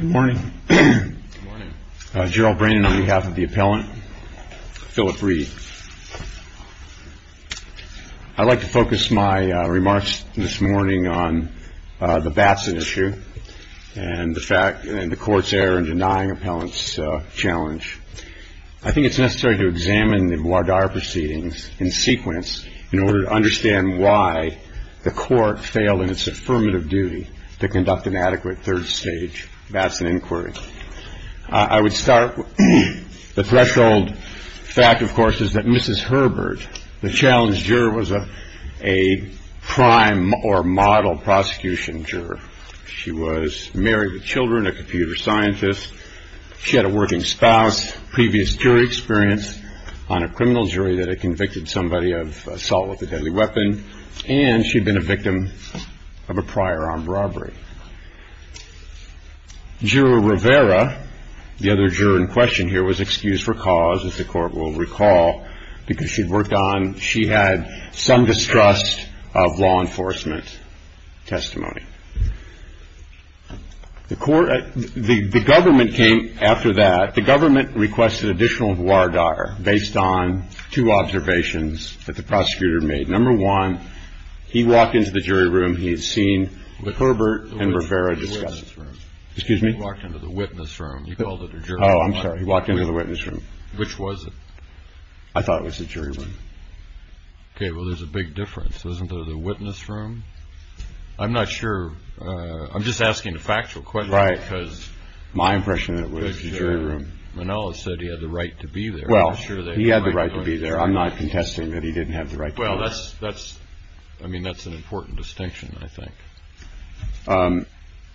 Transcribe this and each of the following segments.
I'd like to focus my remarks this morning on the Batson issue and the court's error in denying appellants' challenge. I think it's necessary to examine the Muad'Dahar proceedings in sequence in order to understand why the court failed in its affirmative duty to conduct an adequate third stage Batson inquiry. I would start with the threshold fact, of course, is that Mrs. Herbert, the challenge juror, was a prime or model prosecution juror. She was married with children, a computer scientist. She had a working spouse, previous jury experience on a criminal jury that had convicted somebody of assault with a deadly weapon, and she'd been a victim of a prior armed robbery. Juror Rivera, the other juror in question here, was excused for cause, as the court will recall, because she'd worked on, she had some distrust of law enforcement testimony. The government came after that. The government requested additional Muad'Dahar based on two observations that the prosecutor made. Number one, he walked into the jury room. He had seen what Herbert and Rivera discussed. Excuse me? He walked into the witness room. You called it a jury room. Oh, I'm sorry. He walked into the witness room. Which was it? I thought it was the jury room. Okay. Well, there's a big difference. Wasn't there the witness room? I'm not sure. I'm just asking a factual question. Right. Because my impression of it was the jury room. Manolo said he had the right to be there. Well, he had the right to be there. I'm not contesting that he didn't have the right to be there. Well, that's, I mean, that's an important distinction, I think.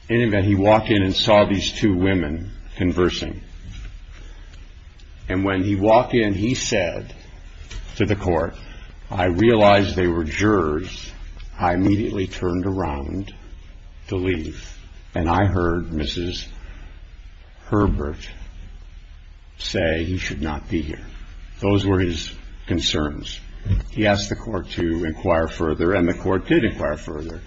In any event, he walked in and saw these two women conversing, and when he walked in, he said to the court, I realized they were jurors. I immediately turned around to leave, and I heard Mrs. Herbert say he should not be here. Those were his concerns. He asked the court to inquire further, and the court did inquire further.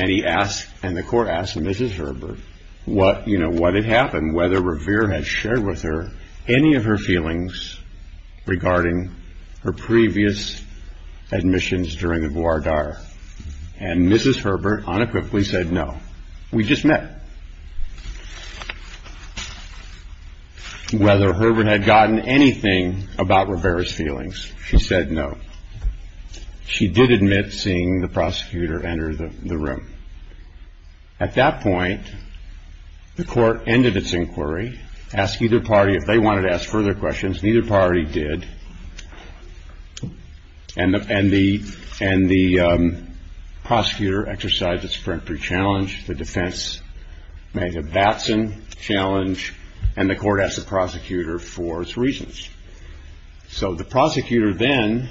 And he asked, and the court asked Mrs. Herbert what, you know, what had happened, and whether Revere had shared with her any of her feelings regarding her previous admissions during the Bois D'Arts. And Mrs. Herbert unequivocally said no. We just met. Whether Herbert had gotten anything about Revere's feelings, she said no. She did admit seeing the prosecutor enter the room. At that point, the court ended its inquiry, asked either party if they wanted to ask further questions, and either party did, and the prosecutor exercised its peremptory challenge, the defense made a Batson challenge, and the court asked the prosecutor for its reasons. So the prosecutor then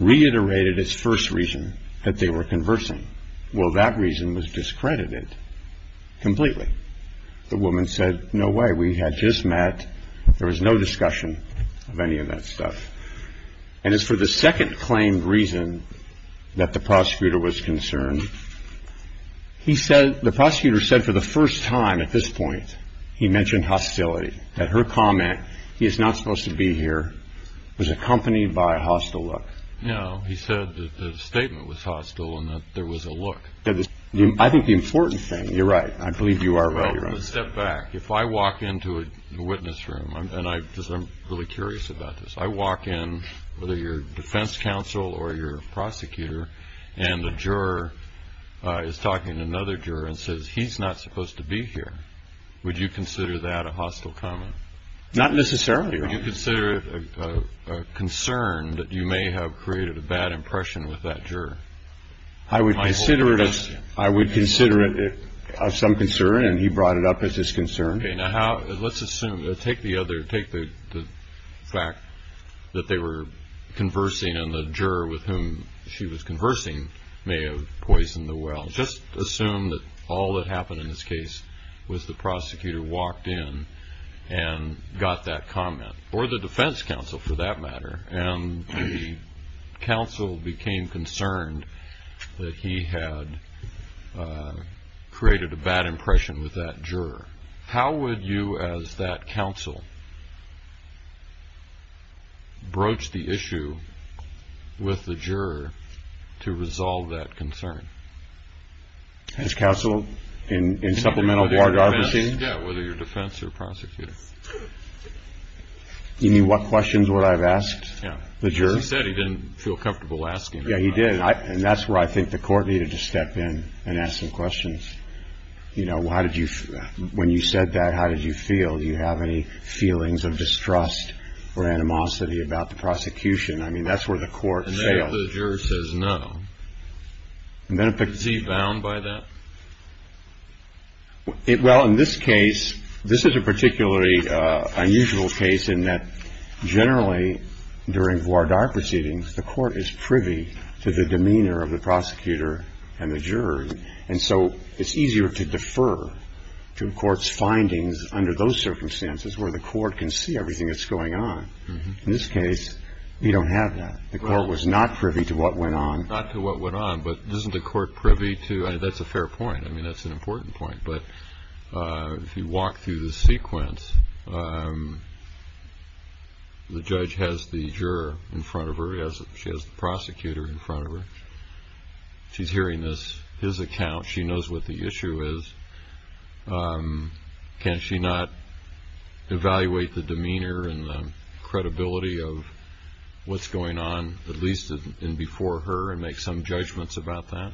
reiterated its first reason, that they were conversing. Well, that reason was discredited completely. The woman said, no way. We had just met. There was no discussion of any of that stuff. And as for the second claimed reason that the prosecutor was concerned, the prosecutor said for the first time at this point, he mentioned hostility. That her comment, he is not supposed to be here, was accompanied by a hostile look. No, he said that the statement was hostile and that there was a look. I think the important thing, you're right, I believe you are right. Step back. If I walk into a witness room, and I'm really curious about this, I walk in, whether you're defense counsel or you're a prosecutor, and the juror is talking to another juror and says, he's not supposed to be here, would you consider that a hostile comment? Not necessarily, Your Honor. Would you consider it a concern that you may have created a bad impression with that juror? I would consider it some concern, and he brought it up as his concern. Okay. Now, let's assume. Take the fact that they were conversing, and the juror with whom she was conversing may have poisoned the well. Just assume that all that happened in this case was the prosecutor walked in and got that comment, or the defense counsel for that matter, and the counsel became concerned that he had created a bad impression with that juror. How would you, as that counsel, broach the issue with the juror to resolve that concern? As counsel in supplemental court arbitration? Yeah, whether you're defense or prosecutor. You mean what questions would I have asked the juror? Yeah, because he said he didn't feel comfortable asking. Yeah, he did, and that's where I think the court needed to step in and ask some questions. You know, when you said that, how did you feel? Do you have any feelings of distrust or animosity about the prosecution? I mean, that's where the court failed. And if the juror says no, is he bound by that? Well, in this case, this is a particularly unusual case in that generally during voir dire proceedings, the court is privy to the demeanor of the prosecutor and the juror. And so it's easier to defer to a court's findings under those circumstances where the court can see everything that's going on. In this case, you don't have that. The court was not privy to what went on. Not to what went on, but isn't the court privy to? That's a fair point. I mean, that's an important point. But if you walk through the sequence, the judge has the juror in front of her. She has the prosecutor in front of her. She's hearing his account. She knows what the issue is. Can she not evaluate the demeanor and the credibility of what's going on, at least in before her, and make some judgments about that?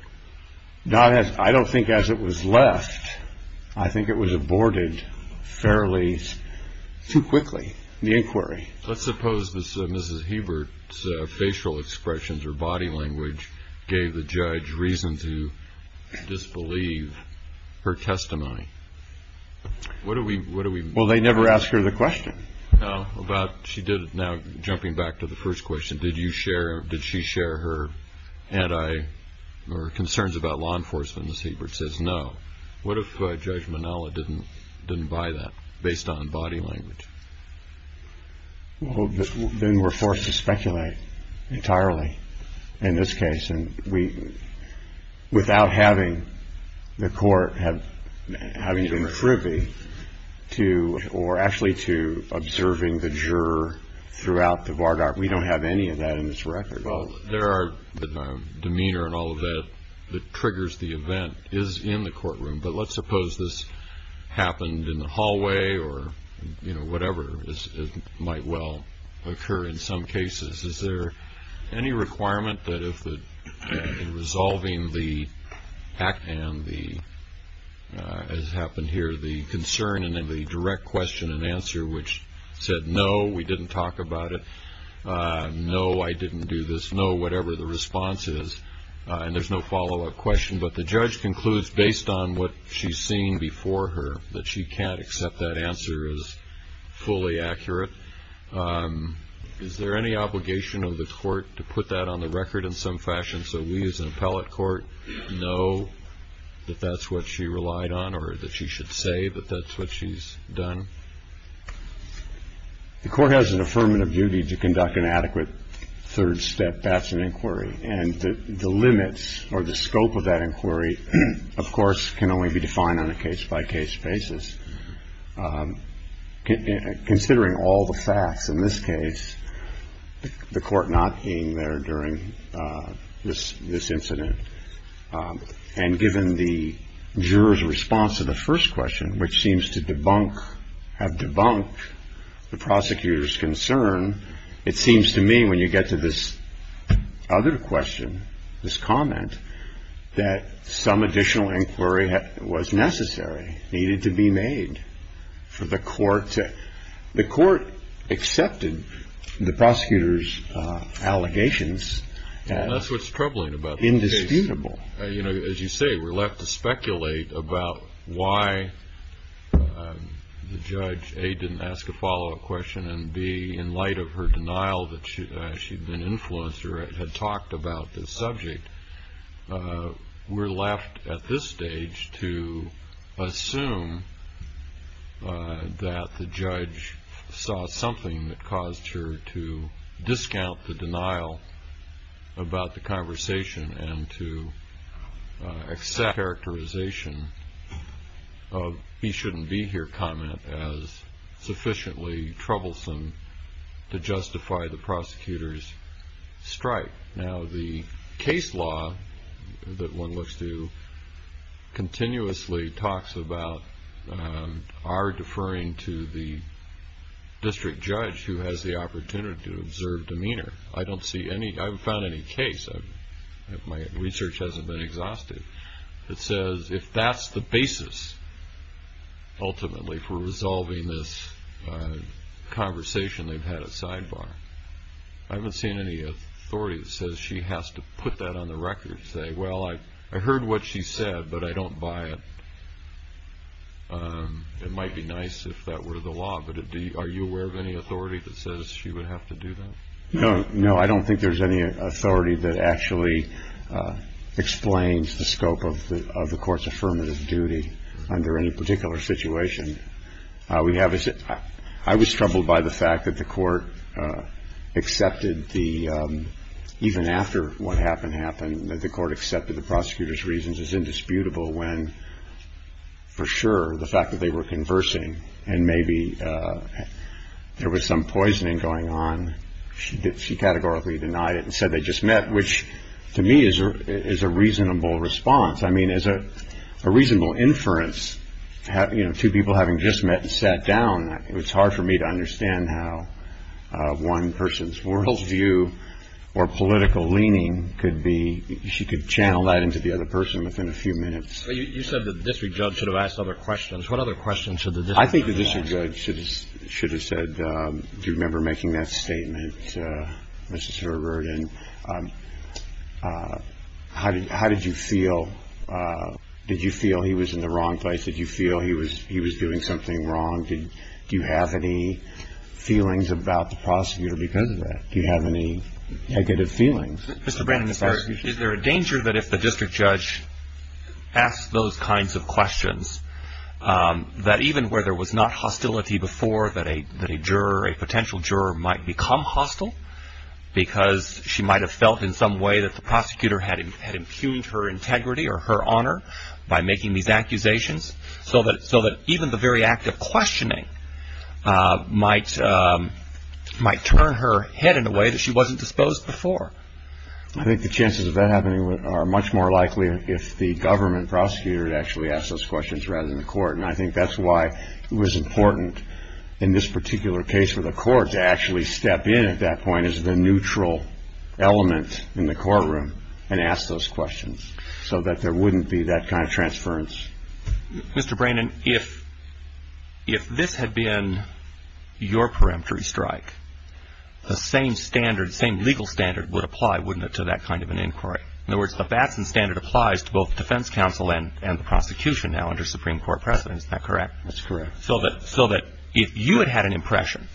I don't think as it was left. I think it was aborted fairly too quickly, the inquiry. Let's suppose Mrs. Hebert's facial expressions or body language gave the judge reason to disbelieve her testimony. What do we do? Well, they never ask her the question. No. Now, jumping back to the first question, did she share her concerns about law enforcement? Mrs. Hebert says no. What if Judge Manala didn't buy that based on body language? Well, then we're forced to speculate entirely in this case. And without having the court having to be privy to or actually to observing the juror throughout the vanguard, we don't have any of that in this record. Well, there are demeanor and all of that that triggers the event is in the courtroom, but let's suppose this happened in the hallway or, you know, whatever. It might well occur in some cases. Is there any requirement that if resolving the act and the, as happened here, the concern and then the direct question and answer which said, no, we didn't talk about it, no, I didn't do this, no, whatever the response is, and there's no follow-up question, but the judge concludes based on what she's seen before her that she can't accept that answer as fully accurate. Is there any obligation of the court to put that on the record in some fashion so we as an appellate court know that that's what she relied on or that she should say that that's what she's done? The court has an affirmative duty to conduct an adequate third step, that's an inquiry, and the limits or the scope of that inquiry, of course, can only be defined on a case-by-case basis. Considering all the facts in this case, the court not being there during this incident and given the juror's response to the first question, which seems to debunk, have debunked the prosecutor's concern, it seems to me when you get to this other question, this comment, that some additional inquiry was necessary, needed to be made for the court. The court accepted the prosecutor's allegations. And that's what's troubling about this case. Indisputable. As you say, we're left to speculate about why the judge, A, didn't ask a follow-up question, and B, in light of her denial that she'd been influenced or had talked about this subject, we're left at this stage to assume that the judge saw something that caused her to discount the denial about the conversation and to accept the characterization of the he-shouldn't-be-here comment as sufficiently troublesome to justify the prosecutor's strike. Now, the case law that one looks to continuously talks about our deferring to the district judge who has the opportunity to observe demeanor. I don't see any. I haven't found any case. My research hasn't been exhausted. It says if that's the basis, ultimately, for resolving this conversation, they've had a sidebar. I haven't seen any authority that says she has to put that on the record and say, well, I heard what she said, but I don't buy it. It might be nice if that were the law, but are you aware of any authority that says she would have to do that? No, I don't think there's any authority that actually explains the scope of the court's affirmative duty under any particular situation. I was troubled by the fact that the court accepted the, even after what happened happened, that the court accepted the prosecutor's reasons as indisputable when, for sure, the fact that they were conversing and maybe there was some poisoning going on, she categorically denied it and said they just met, which to me is a reasonable response. I mean, as a reasonable inference, two people having just met and sat down, it's hard for me to understand how one person's world view or political leaning could be, she could channel that into the other person within a few minutes. You said that the district judge should have asked other questions. What other questions should the district judge have asked? I think the district judge should have said, do you remember making that statement, Mr. Silverberg, and how did you feel? Did you feel he was in the wrong place? Did you feel he was doing something wrong? Do you have any feelings about the prosecutor because of that? Do you have any negative feelings? Mr. Brannan, is there a danger that if the district judge asks those kinds of questions, that even where there was not hostility before, that a juror, a potential juror, might become hostile because she might have felt in some way that the prosecutor had impugned her integrity or her honor by making these accusations, so that even the very act of questioning might turn her head in a way that she wasn't disposed before? I think the chances of that happening are much more likely if the government prosecutor And I think that's why it was important in this particular case for the court to actually step in at that point as the neutral element in the courtroom and ask those questions, so that there wouldn't be that kind of transference. Mr. Brannan, if this had been your peremptory strike, the same standard, the same legal standard would apply, wouldn't it, to that kind of an inquiry? In other words, the Batson standard applies to both the defense counsel and the prosecution now under Supreme Court precedent, is that correct? That's correct. So that if you had had an impression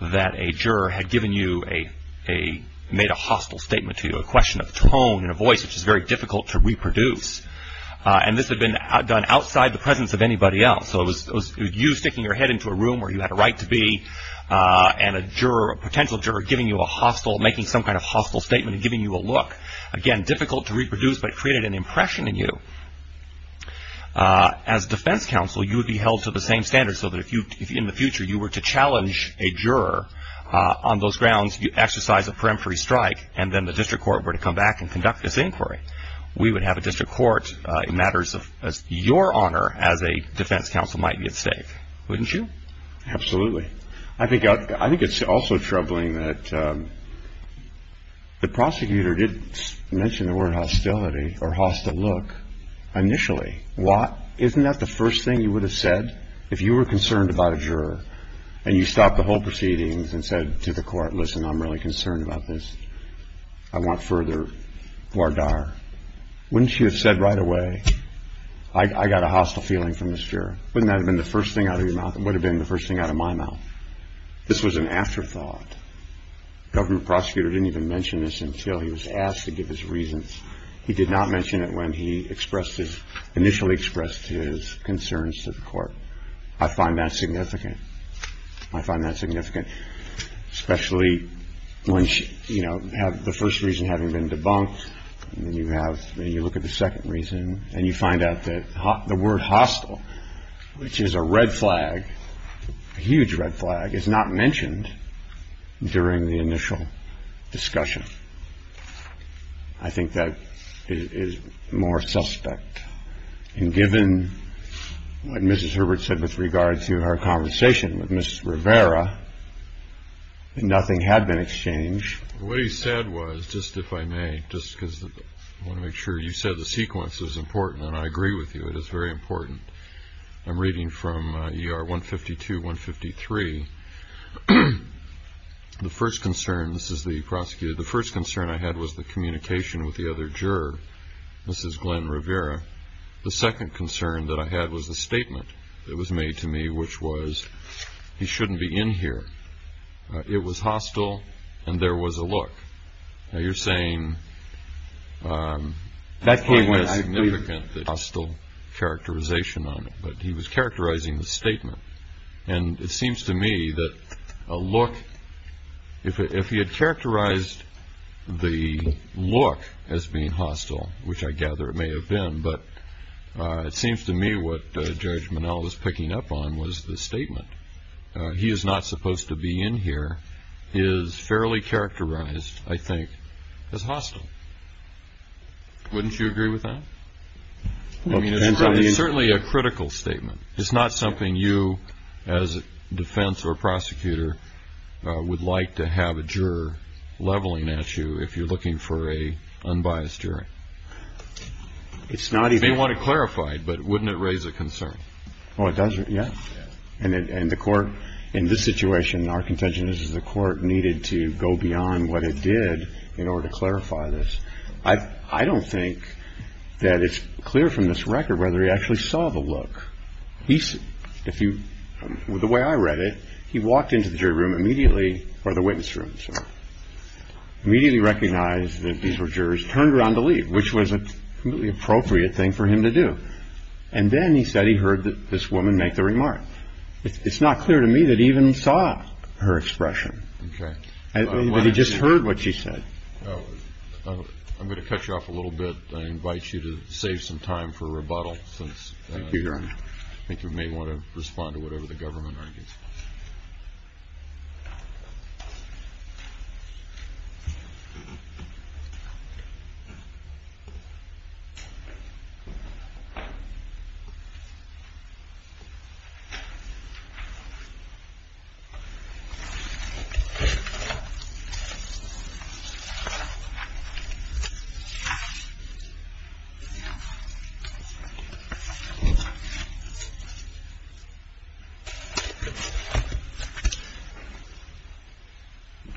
that a juror had given you a, made a hostile statement to you, a question of tone and a voice which is very difficult to reproduce, and this had been done outside the presence of anybody else, so it was you sticking your head into a room where you had a right to be, and a juror, a potential juror giving you a hostile, making some kind of hostile statement and giving you a look, again, difficult to reproduce, but it created an impression in you, as defense counsel you would be held to the same standards, so that if in the future you were to challenge a juror on those grounds, you'd exercise a peremptory strike, and then the district court were to come back and conduct this inquiry. We would have a district court, in matters of your honor, as a defense counsel might be at stake, wouldn't you? Absolutely. I think it's also troubling that the prosecutor didn't mention the word hostility or hostile look initially. Isn't that the first thing you would have said if you were concerned about a juror, and you stopped the whole proceedings and said to the court, listen, I'm really concerned about this. I want further voir dire. Wouldn't you have said right away, I got a hostile feeling from this juror? Wouldn't that have been the first thing out of your mouth? It would have been the first thing out of my mouth. This was an afterthought. The government prosecutor didn't even mention this until he was asked to give his reasons. He did not mention it when he initially expressed his concerns to the court. I find that significant. I find that significant, especially when, you know, the first reason having been debunked, and then you look at the second reason, and you find out that the word hostile, which is a red flag, a huge red flag, is not mentioned during the initial discussion. I think that is more suspect. And given what Mrs. Herbert said with regard to her conversation with Ms. Rivera, nothing had been exchanged. What he said was, just if I may, just because I want to make sure, you said the sequence is important, and I agree with you. It is very important. I'm reading from ER 152, 153. The first concern, this is the prosecutor, the first concern I had was the communication with the other juror, Mrs. Glenn Rivera. The second concern that I had was the statement that was made to me, which was he shouldn't be in here. It was hostile, and there was a look. Now, you're saying that's quite a significant hostile characterization on it, but he was characterizing the statement. And it seems to me that a look, if he had characterized the look as being hostile, which I gather it may have been, but it seems to me what Judge Minnell was picking up on was the statement. He is not supposed to be in here, is fairly characterized, I think, as hostile. Wouldn't you agree with that? I mean, it's certainly a critical statement. It's not something you, as a defense or prosecutor, would like to have a juror leveling at you if you're looking for an unbiased jury. You may want it clarified, but wouldn't it raise a concern? Oh, it does, yeah. And the court, in this situation, our contention is the court needed to go beyond what it did in order to clarify this. I don't think that it's clear from this record whether he actually saw the look. The way I read it, he walked into the jury room immediately, or the witness room, sorry, immediately recognized that these were jurors, turned around to leave, which was a completely appropriate thing for him to do. And then he said he heard this woman make the remark. It's not clear to me that he even saw her expression. But he just heard what she said. I'm going to cut you off a little bit. I invite you to save some time for rebuttal. I think you may want to respond to whatever the government argues.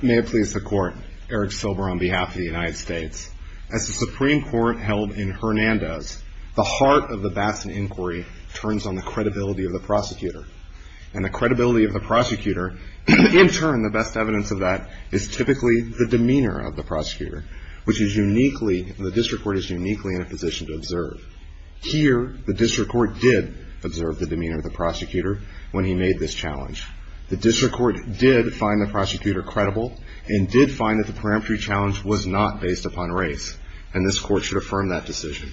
May it please the Court. Eric Silber on behalf of the United States. As the Supreme Court held in Hernandez, the heart of the Batson inquiry turns on the credibility of the prosecutor. And the credibility of the prosecutor, in turn, the best evidence of that, is typically the demeanor of the prosecutor, which is uniquely, the district court is uniquely in a position to observe. Here, the district court did observe the demeanor of the prosecutor when he made this challenge. The district court did find the prosecutor credible, and did find that the peremptory challenge was not based upon race. And this Court should affirm that decision.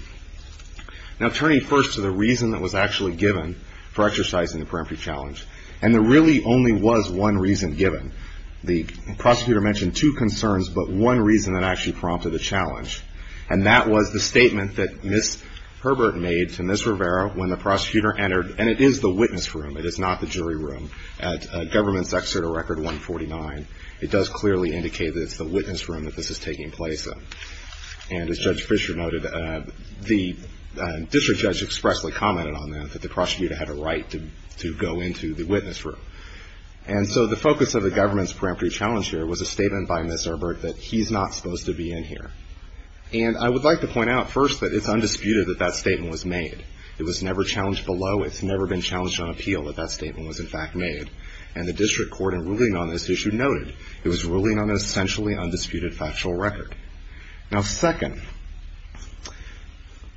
Now, turning first to the reason that was actually given for exercising the peremptory challenge. And there really only was one reason given. The prosecutor mentioned two concerns, but one reason that actually prompted the challenge. And that was the statement that Ms. Herbert made to Ms. Rivera when the prosecutor entered, and it is the witness room, it is not the jury room, at Government's Excerpt of Record 149. It does clearly indicate that it's the witness room that this is taking place in. And as Judge Fisher noted, the district judge expressly commented on that, that the prosecutor had a right to go into the witness room. And so the focus of the government's peremptory challenge here was a statement by Ms. And I would like to point out first that it's undisputed that that statement was made. It was never challenged below. It's never been challenged on appeal that that statement was in fact made. And the district court in ruling on this issue noted it was ruling on an essentially undisputed factual record. Now, second,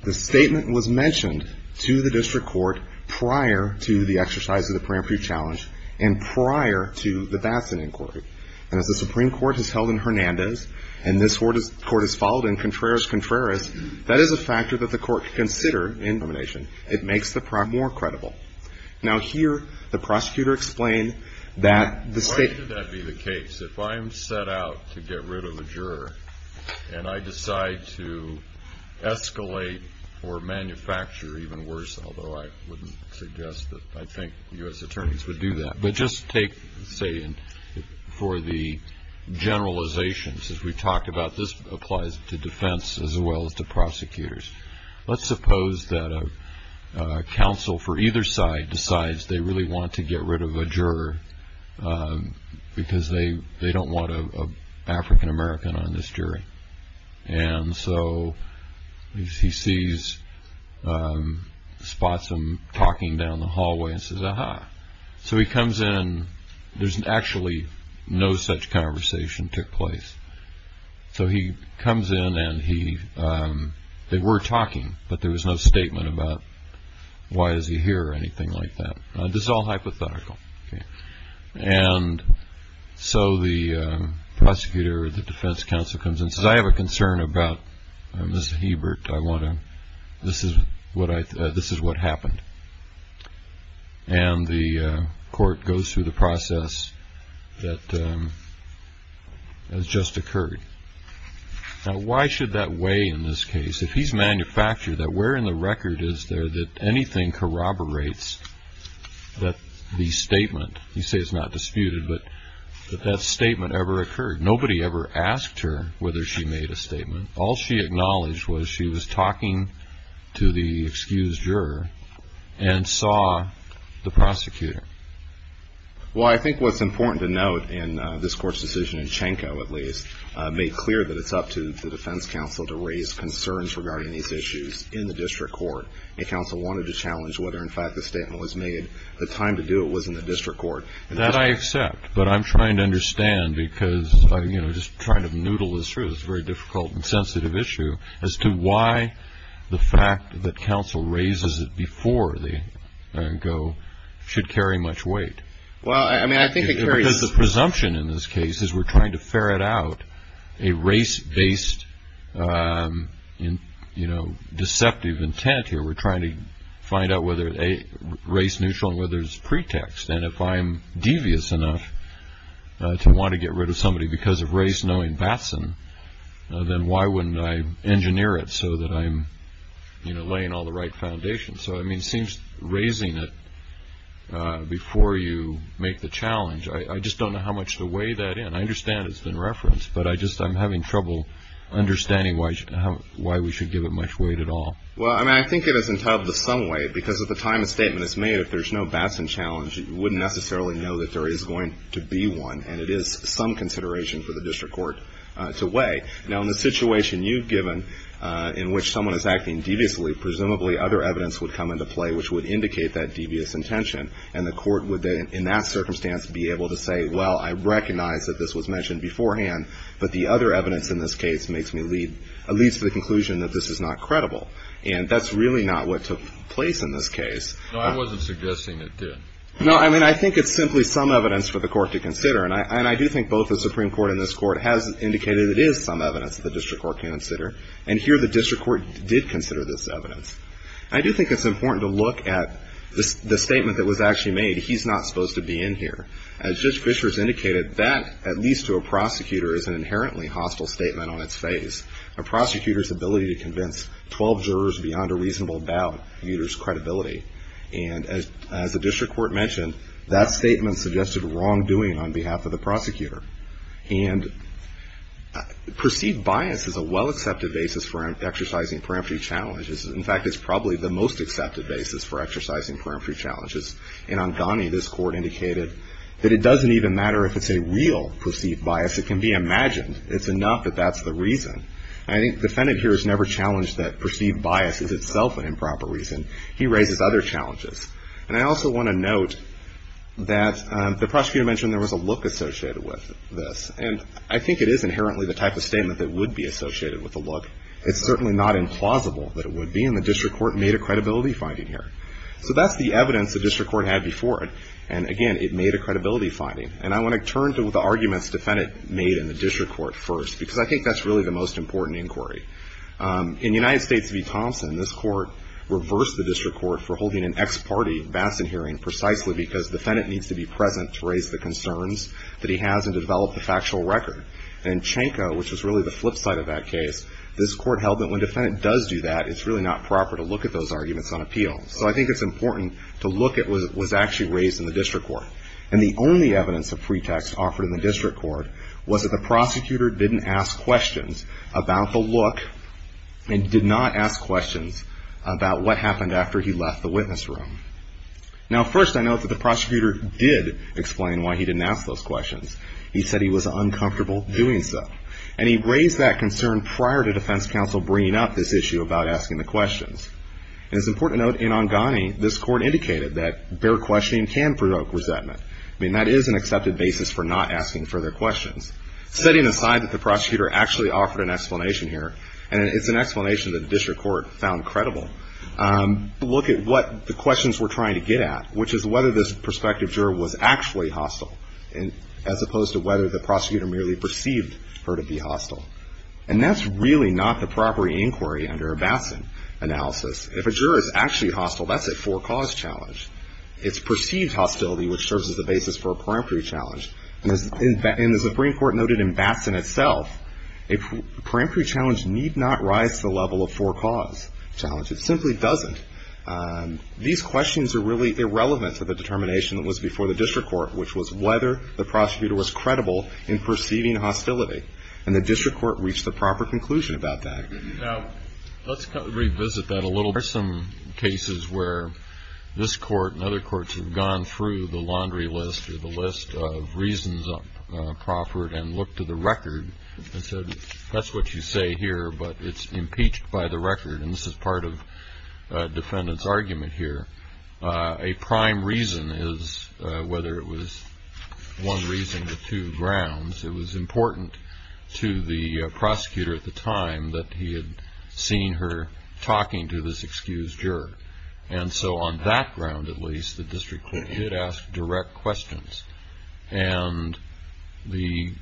the statement was mentioned to the district court prior to the exercise of the peremptory challenge, and prior to the Batson inquiry. And as the Supreme Court has held in Hernandez, and this court has followed in Contreras-Contreras, that is a factor that the court can consider in determination. It makes the prog more credible. Now, here the prosecutor explained that the state of the case, if I am set out to get rid of a juror, and I decide to escalate or manufacture even worse, although I wouldn't suggest that. I think U.S. attorneys would do that. But just take, say, for the generalizations, as we've talked about, this applies to defense as well as to prosecutors. Let's suppose that a counsel for either side decides they really want to get rid of a juror because they don't want an African-American on this jury. And so he sees, spots him talking down the hallway and says, ah-ha. So he comes in. There's actually no such conversation took place. So he comes in, and they were talking, but there was no statement about why is he here or anything like that. This is all hypothetical. And so the prosecutor or the defense counsel comes in and says, I have a concern about Ms. Hebert. I want to, this is what happened. And the court goes through the process that has just occurred. Now, why should that weigh in this case? If he's manufactured that where in the record is there that anything corroborates that the statement, you say it's not disputed, but that that statement ever occurred. All she acknowledged was she was talking to the excused juror and saw the prosecutor. Well, I think what's important to note in this court's decision, and Chanko, at least, made clear that it's up to the defense counsel to raise concerns regarding these issues in the district court. A counsel wanted to challenge whether, in fact, the statement was made. The time to do it was in the district court. That I accept, but I'm trying to understand because I'm just trying to noodle this through. It's a very difficult and sensitive issue as to why the fact that counsel raises it before they go should carry much weight. Well, I mean, I think it carries. Because the presumption in this case is we're trying to ferret out a race-based deceptive intent here. We're trying to find out whether race neutral and whether it's pretext. And if I'm devious enough to want to get rid of somebody because of race knowing Batson, then why wouldn't I engineer it so that I'm laying all the right foundations? So, I mean, it seems raising it before you make the challenge, I just don't know how much to weigh that in. I understand it's been referenced, but I'm having trouble understanding why we should give it much weight at all. Well, I mean, I think it is entitled to some weight. Because at the time a statement is made, if there's no Batson challenge, you wouldn't necessarily know that there is going to be one. And it is some consideration for the district court to weigh. Now, in the situation you've given in which someone is acting deviously, presumably other evidence would come into play which would indicate that devious intention. And the court would, in that circumstance, be able to say, well, I recognize that this was mentioned beforehand, but the other evidence in this case leads to the conclusion that this is not credible. And that's really not what took place in this case. No, I wasn't suggesting it did. No, I mean, I think it's simply some evidence for the court to consider. And I do think both the Supreme Court and this Court has indicated it is some evidence the district court can consider. And here the district court did consider this evidence. I do think it's important to look at the statement that was actually made. He's not supposed to be in here. As Judge Fischer has indicated, that, at least to a prosecutor, is an inherently hostile statement on its face. A prosecutor's ability to convince 12 jurors beyond a reasonable doubt muters credibility. And as the district court mentioned, that statement suggested wrongdoing on behalf of the prosecutor. And perceived bias is a well-accepted basis for exercising parametric challenges. In fact, it's probably the most accepted basis for exercising parametric challenges. In Angani, this court indicated that it doesn't even matter if it's a real perceived bias. It can be imagined. It's enough that that's the reason. And I think the defendant here has never challenged that perceived bias is itself an improper reason. He raises other challenges. And I also want to note that the prosecutor mentioned there was a look associated with this. And I think it is inherently the type of statement that would be associated with a look. It's certainly not implausible that it would be. And the district court made a credibility finding here. So that's the evidence the district court had before it. And, again, it made a credibility finding. And I want to turn to the arguments the defendant made in the district court first. Because I think that's really the most important inquiry. In United States v. Thompson, this court reversed the district court for holding an ex-party Bassett hearing precisely because the defendant needs to be present to raise the concerns that he has and to develop the factual record. And in Chenko, which was really the flip side of that case, this court held that when the defendant does do that, it's really not proper to look at those arguments on appeal. So I think it's important to look at what was actually raised in the district court. And the only evidence of pretext offered in the district court was that the prosecutor didn't ask questions about the look and did not ask questions about what happened after he left the witness room. Now, first, I note that the prosecutor did explain why he didn't ask those questions. He said he was uncomfortable doing so. And he raised that concern prior to defense counsel bringing up this issue about asking the questions. And it's important to note in Ongani, this court indicated that bare questioning can provoke resentment. I mean, that is an accepted basis for not asking further questions. Setting aside that the prosecutor actually offered an explanation here, and it's an explanation that the district court found credible, look at what the questions were trying to get at, which is whether this prospective juror was actually hostile, as opposed to whether the prosecutor merely perceived her to be hostile. And that's really not the proper inquiry under a Batson analysis. If a juror is actually hostile, that's a for-cause challenge. It's perceived hostility, which serves as the basis for a peremptory challenge. And as the Supreme Court noted in Batson itself, a peremptory challenge need not rise to the level of for-cause challenge. It simply doesn't. These questions are really irrelevant to the determination that was before the district court, which was whether the prosecutor was credible in perceiving hostility. And the district court reached the proper conclusion about that. Now, let's revisit that a little. There are some cases where this court and other courts have gone through the laundry list or the list of reasons proffered and looked to the record and said, that's what you say here, but it's impeached by the record, and this is part of a defendant's argument here. A prime reason is whether it was one reason to two grounds. It was important to the prosecutor at the time that he had seen her talking to this excused juror. And so on that ground, at least, the district court did ask direct questions. And the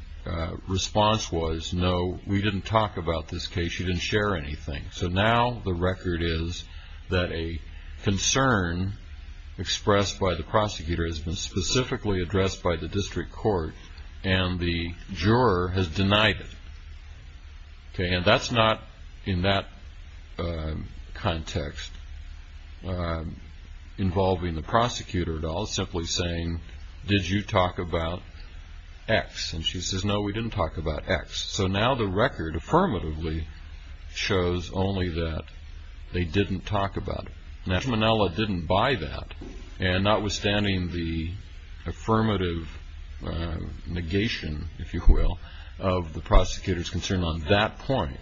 response was, no, we didn't talk about this case. She didn't share anything. So now the record is that a concern expressed by the prosecutor has been specifically addressed by the district court, and the juror has denied it. And that's not, in that context, involving the prosecutor at all. It's simply saying, did you talk about X? And she says, no, we didn't talk about X. So now the record affirmatively shows only that they didn't talk about it. Nesmanella didn't buy that. And notwithstanding the affirmative negation, if you will, of the prosecutor's concern on that point,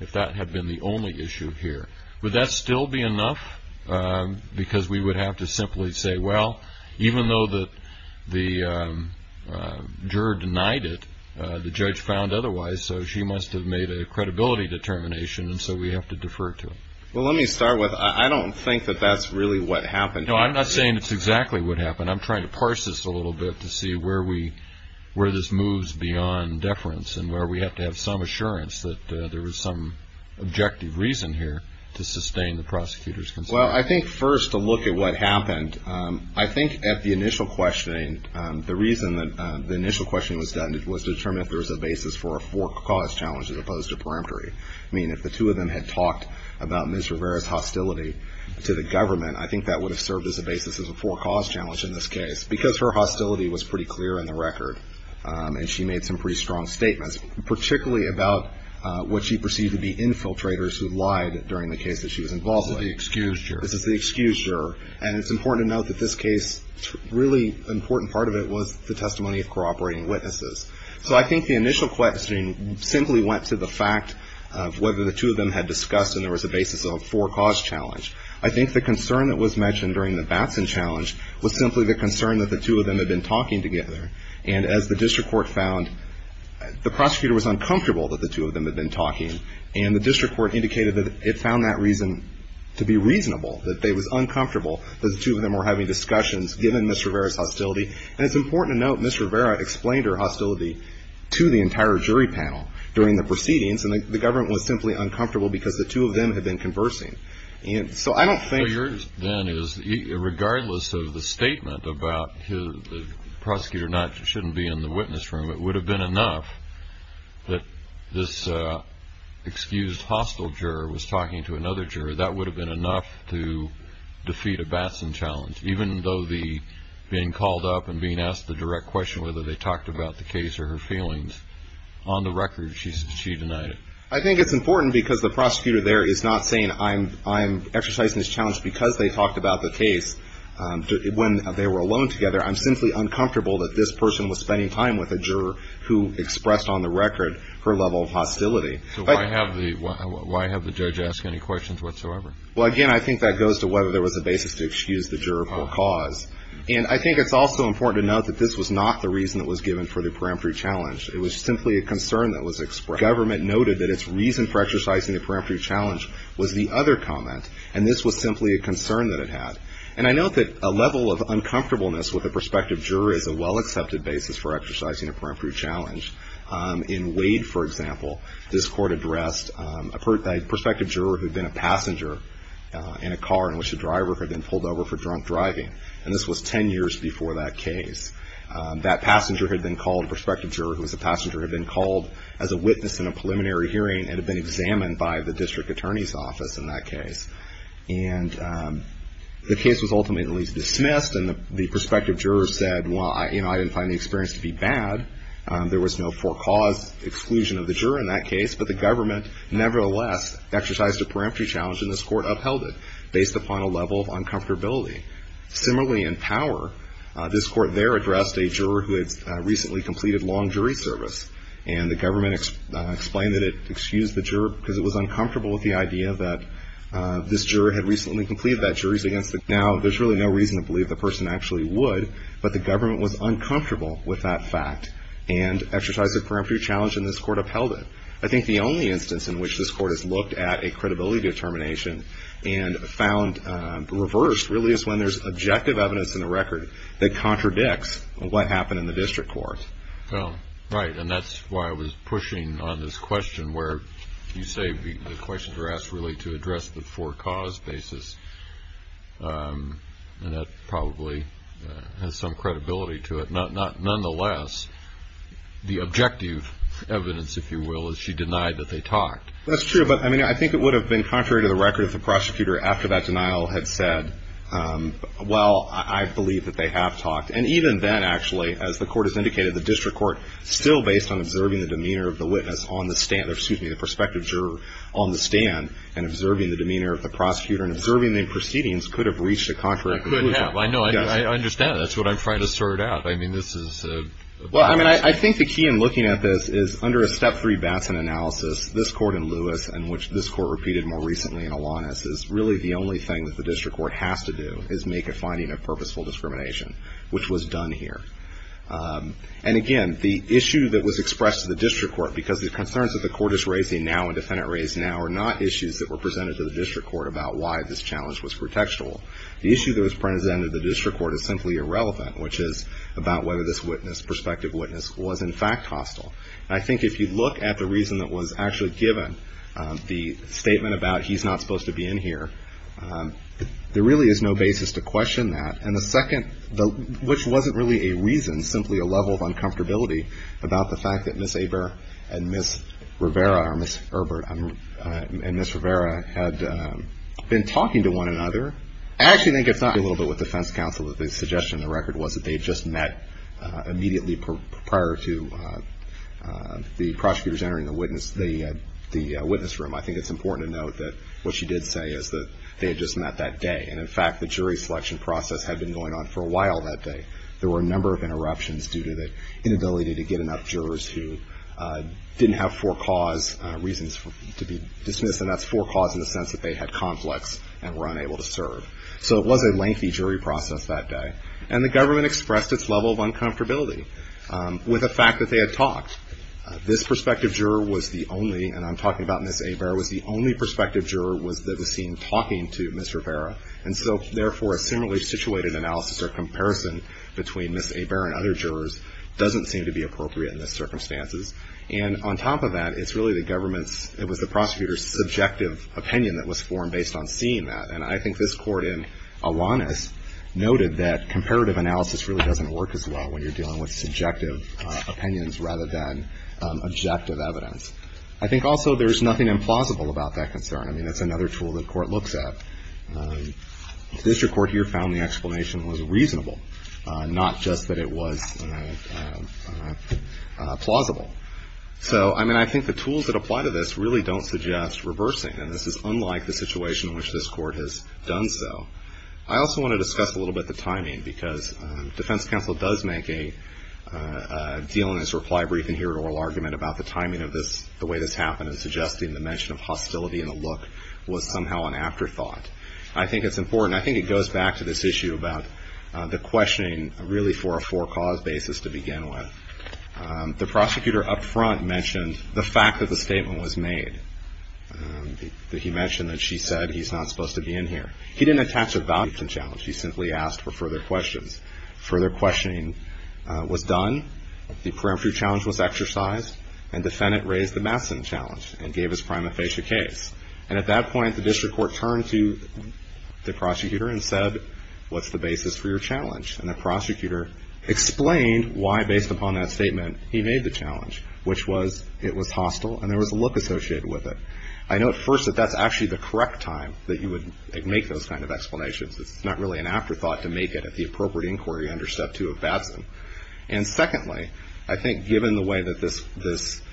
if that had been the only issue here, would that still be enough? Because we would have to simply say, well, even though the juror denied it, the judge found otherwise, so she must have made a credibility determination, and so we have to defer to it. Well, let me start with, I don't think that that's really what happened here. No, I'm not saying it's exactly what happened. I'm trying to parse this a little bit to see where this moves beyond deference and where we have to have some assurance that there was some objective reason here to sustain the prosecutor's concern. Well, I think first to look at what happened, I think at the initial questioning, the reason that the initial questioning was done was to determine if there was a basis for a four-cause challenge as opposed to peremptory. I mean, if the two of them had talked about Ms. Rivera's hostility to the government, I think that would have served as a basis as a four-cause challenge in this case, because her hostility was pretty clear in the record, and she made some pretty strong statements, particularly about what she perceived to be infiltrators who lied during the case that she was involved with. This is the excused juror. This is the excused juror, and it's important to note that this case, a really important part of it was the testimony of cooperating witnesses. So I think the initial questioning simply went to the fact of whether the two of them had discussed and there was a basis of a four-cause challenge. I think the concern that was mentioned during the Batson challenge was simply the concern that the two of them had been talking together. And as the district court found, the prosecutor was uncomfortable that the two of them had been talking, and the district court indicated that it found that reason to be reasonable, that it was uncomfortable that the two of them were having discussions given Ms. Rivera's hostility. And it's important to note Ms. Rivera explained her hostility to the entire jury panel during the proceedings, and the government was simply uncomfortable because the two of them had been conversing. So I don't think. So yours then is regardless of the statement about the prosecutor shouldn't be in the witness room, it would have been enough that this excused hostile juror was talking to another juror, that would have been enough to defeat a Batson challenge, even though being called up and being asked the direct question whether they talked about the case or her feelings, on the record she denied it. I think it's important because the prosecutor there is not saying I'm exercising this challenge because they talked about the case when they were alone together. I'm simply uncomfortable that this person was spending time with a juror who expressed on the record her level of hostility. So why have the judge ask any questions whatsoever? Well, again, I think that goes to whether there was a basis to excuse the juror for a cause. And I think it's also important to note that this was not the reason that was given for the peremptory challenge. It was simply a concern that was expressed. The government noted that its reason for exercising the peremptory challenge was the other comment, and this was simply a concern that it had. And I note that a level of uncomfortableness with a prospective juror is a well-accepted basis for exercising a peremptory challenge. In Wade, for example, this court addressed a prospective juror who had been a passenger in a car in which the driver had been pulled over for drunk driving, and this was 10 years before that case. That passenger had been called, a prospective juror who was a passenger, had been called as a witness in a preliminary hearing and had been examined by the district attorney's office in that case. And the case was ultimately dismissed, and the prospective juror said, well, I didn't find the experience to be bad. There was no forecaused exclusion of the juror in that case, but the government nevertheless exercised a peremptory challenge and this court upheld it based upon a level of uncomfortability. Similarly, in Power, this court there addressed a juror who had recently completed long jury service, and the government explained that it excused the juror because it was uncomfortable with the idea that this juror had recently completed that jury. Now, there's really no reason to believe the person actually would, but the government was uncomfortable with that fact and exercised a peremptory challenge and this court upheld it. I think the only instance in which this court has looked at a credibility determination and found reversed really is when there's objective evidence in the record that contradicts what happened in the district court. Right, and that's why I was pushing on this question where you say the questions are asked really to address the forecaused basis, and that probably has some credibility to it. Nonetheless, the objective evidence, if you will, is she denied that they talked. That's true, but I mean, I think it would have been contrary to the record if the prosecutor after that denial had said, well, I believe that they have talked. And even then, actually, as the court has indicated, the district court still based on observing the demeanor of the witness on the stand, or excuse me, the prospective juror on the stand, and observing the demeanor of the prosecutor and observing the proceedings could have reached a contrary conclusion. I know, I understand. That's what I'm trying to sort out. I mean, this is. Well, I mean, I think the key in looking at this is under a step three Batson analysis, this court in Lewis and which this court repeated more recently in Alanis, is really the only thing that the district court has to do is make a finding of purposeful discrimination, which was done here. And again, the issue that was expressed to the district court, because the concerns that the court is raising now and the defendant raised now are not issues that were presented to the district court about why this challenge was pretextual. The issue that was presented to the district court is simply irrelevant, which is about whether this witness, prospective witness, was in fact hostile. And I think if you look at the reason that was actually given, the statement about he's not supposed to be in here, there really is no basis to question that. And the second, which wasn't really a reason, simply a level of uncomfortability about the fact that Ms. Aver and Ms. Rivera, or Ms. Herbert and Ms. Rivera had been talking to one another. I actually think it's not a little bit with defense counsel that the suggestion in the record was that they had just met immediately prior to the prosecutors entering the witness, the witness room. I think it's important to note that what she did say is that they had just met that day. And in fact, the jury selection process had been going on for a while that day. There were a number of interruptions due to the inability to get enough jurors who didn't have four cause reasons to be dismissed, and that's four cause in the sense that they had conflicts and were unable to serve. So it was a lengthy jury process that day. And the government expressed its level of uncomfortability with the fact that they had talked. This prospective juror was the only, and I'm talking about Ms. Aver, was the only prospective juror that was seen talking to Ms. Rivera. And so, therefore, a similarly situated analysis or comparison between Ms. Aver and other jurors doesn't seem to be appropriate in this circumstances. And on top of that, it's really the government's, it was the prosecutor's subjective opinion that was formed based on seeing that. And I think this Court in Alanis noted that comparative analysis really doesn't work as well when you're dealing with subjective opinions rather than objective evidence. I think also there's nothing implausible about that concern. I mean, that's another tool the Court looks at. The district court here found the explanation was reasonable, not just that it was plausible. So, I mean, I think the tools that apply to this really don't suggest reversing. And this is unlike the situation in which this Court has done so. I also want to discuss a little bit the timing because defense counsel does make a deal in his reply briefing here, an oral argument about the timing of this, the way this happened, and suggesting the mention of hostility in the look was somehow an afterthought. I think it's important. I think it goes back to this issue about the questioning really for a four-cause basis to begin with. The prosecutor up front mentioned the fact that the statement was made. He mentioned that she said he's not supposed to be in here. He didn't attach a value to the challenge. He simply asked for further questions. Further questioning was done. The preemptive challenge was exercised. And defendant raised the Madison challenge and gave his prima facie case. And at that point, the district court turned to the prosecutor and said, what's the basis for your challenge? And the prosecutor explained why, based upon that statement, he made the challenge, which was it was hostile and there was a look associated with it. I note first that that's actually the correct time that you would make those kind of explanations. It's not really an afterthought to make it at the appropriate inquiry under Step 2 of Madison. And secondly, I think given the way that this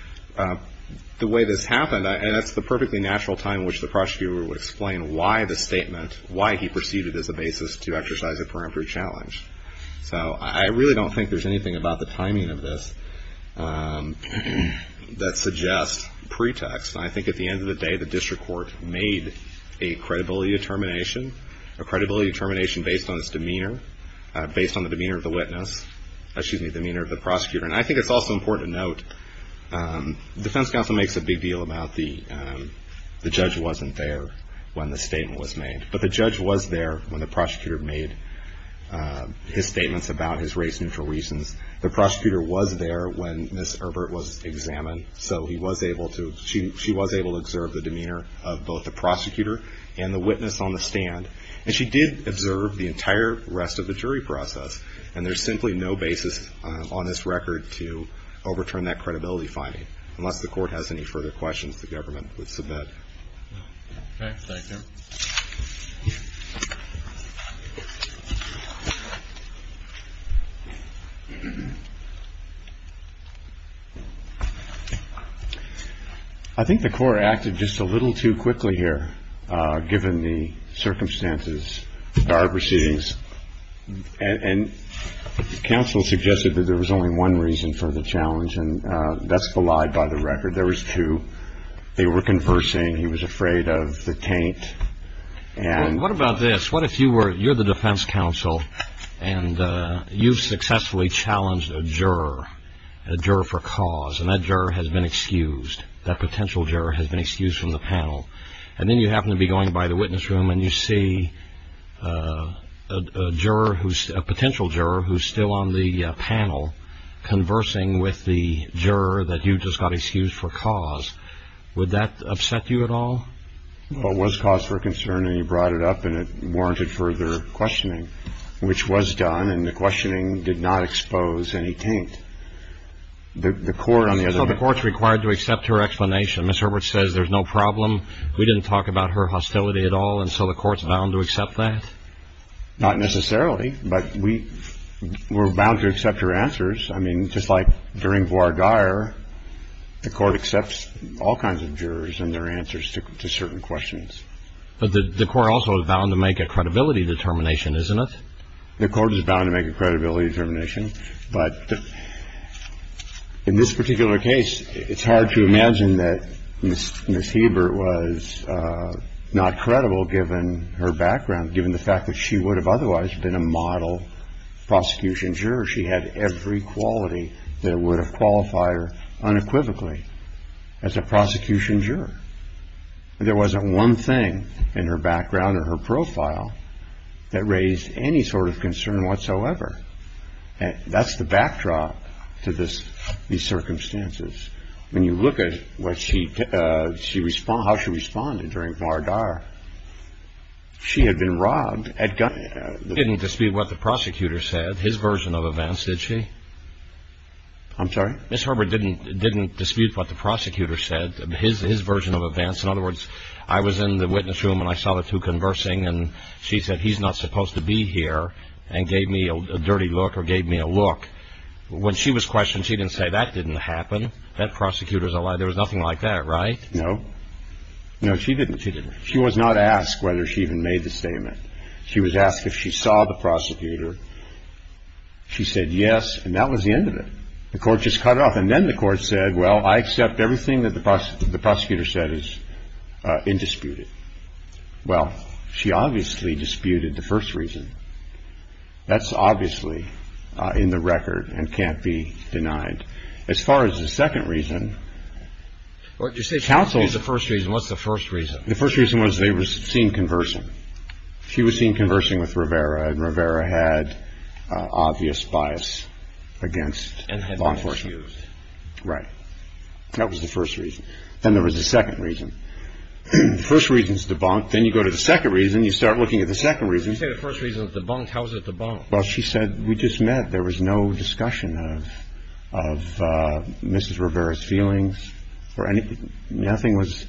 happened, and it's the perfectly natural time in which the prosecutor would explain why the statement, why he perceived it as a basis to exercise a preemptive challenge. So I really don't think there's anything about the timing of this that suggests pretext. I think at the end of the day, the district court made a credibility determination, a credibility determination based on its demeanor, based on the demeanor of the witness, excuse me, the demeanor of the prosecutor. And I think it's also important to note, the defense counsel makes a big deal about the judge wasn't there when the statement was made. But the judge was there when the prosecutor made his statements about his race-neutral reasons. So he was able to, she was able to observe the demeanor of both the prosecutor and the witness on the stand. And she did observe the entire rest of the jury process. And there's simply no basis on this record to overturn that credibility finding. Unless the court has any further questions, the government would submit. Thank you. I think the court acted just a little too quickly here, given the circumstances of our proceedings. And counsel suggested that there was only one reason for the challenge, and that's the lie by the record. There was two. They were conversing. He was afraid of the taint. What about this? What if you were, you're the defense counsel, and you've successfully challenged a juror, a juror for cause, and that juror has been excused, that potential juror has been excused from the panel. And then you happen to be going by the witness room and you see a potential juror who's still on the panel conversing with the juror that you just got excused for cause. Would that upset you at all? Well, it was cause for concern, and you brought it up, and it warranted further questioning, which was done, and the questioning did not expose any taint. So the court's required to accept her explanation. Ms. Herbert says there's no problem. We didn't talk about her hostility at all, and so the court's bound to accept that? Not necessarily, but we're bound to accept her answers. I mean, just like during Voir Geyer, the court accepts all kinds of jurors and their answers to certain questions. But the court also is bound to make a credibility determination, isn't it? The court is bound to make a credibility determination, but in this particular case, it's hard to imagine that Ms. Herbert was not credible given her background, given the fact that she would have otherwise been a model prosecution juror. She had every quality that would have qualified her unequivocally as a prosecution juror. There wasn't one thing in her background or her profile that raised any sort of concern whatsoever. That's the backdrop to these circumstances. When you look at how she responded during Voir Geyer, she had been robbed at gunpoint. She didn't dispute what the prosecutor said, his version of events, did she? I'm sorry? Ms. Herbert didn't dispute what the prosecutor said, his version of events. In other words, I was in the witness room, and I saw the two conversing, and she said, he's not supposed to be here, and gave me a dirty look or gave me a look. When she was questioned, she didn't say, that didn't happen. That prosecutor's a liar. There was nothing like that, right? No. No, she didn't. She was not asked whether she even made the statement. She was asked if she saw the prosecutor. She said yes, and that was the end of it. The court just cut it off. And then the court said, well, I accept everything that the prosecutor said is indisputed. Well, she obviously disputed the first reason. That's obviously in the record and can't be denied. As far as the second reason, counsels – What did you say was the first reason? What's the first reason? The first reason was they were seen conversing. She was seen conversing with Rivera, and Rivera had obvious bias against law enforcement. And had been misused. Right. That was the first reason. Then there was a second reason. The first reason is debunked. Then you go to the second reason. You start looking at the second reason. You say the first reason is debunked. How is it debunked? Well, she said, we just met. There was no discussion of Mrs. Rivera's feelings or anything. Nothing was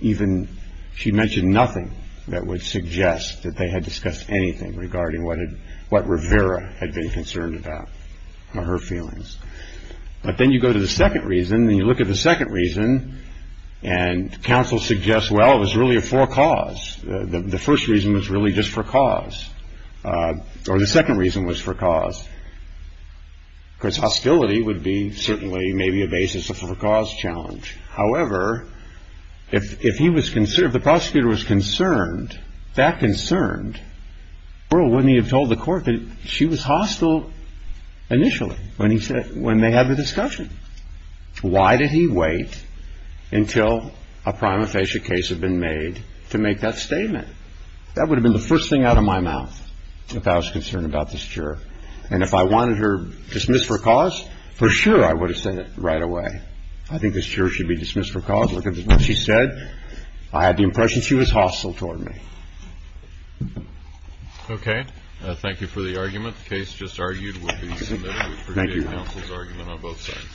even – she mentioned nothing that would suggest that they had discussed anything regarding what Rivera had been concerned about or her feelings. But then you go to the second reason, and you look at the second reason, and counsel suggests, well, it was really a for-cause. The first reason was really just for cause. Or the second reason was for cause. Because hostility would be certainly maybe a basis of a for-cause challenge. However, if he was – if the prosecutor was concerned, that concerned, Burl wouldn't he have told the court that she was hostile initially when he said – when they had the discussion? Why did he wait until a prima facie case had been made to make that statement? That would have been the first thing out of my mouth if I was concerned about this juror. And if I wanted her dismissed for cause, for sure I would have said it right away. I think this juror should be dismissed for cause. Look at what she said. I had the impression she was hostile toward me. Okay. Thank you for the argument. The case just argued will be submitted. Appreciate counsel's argument on both sides.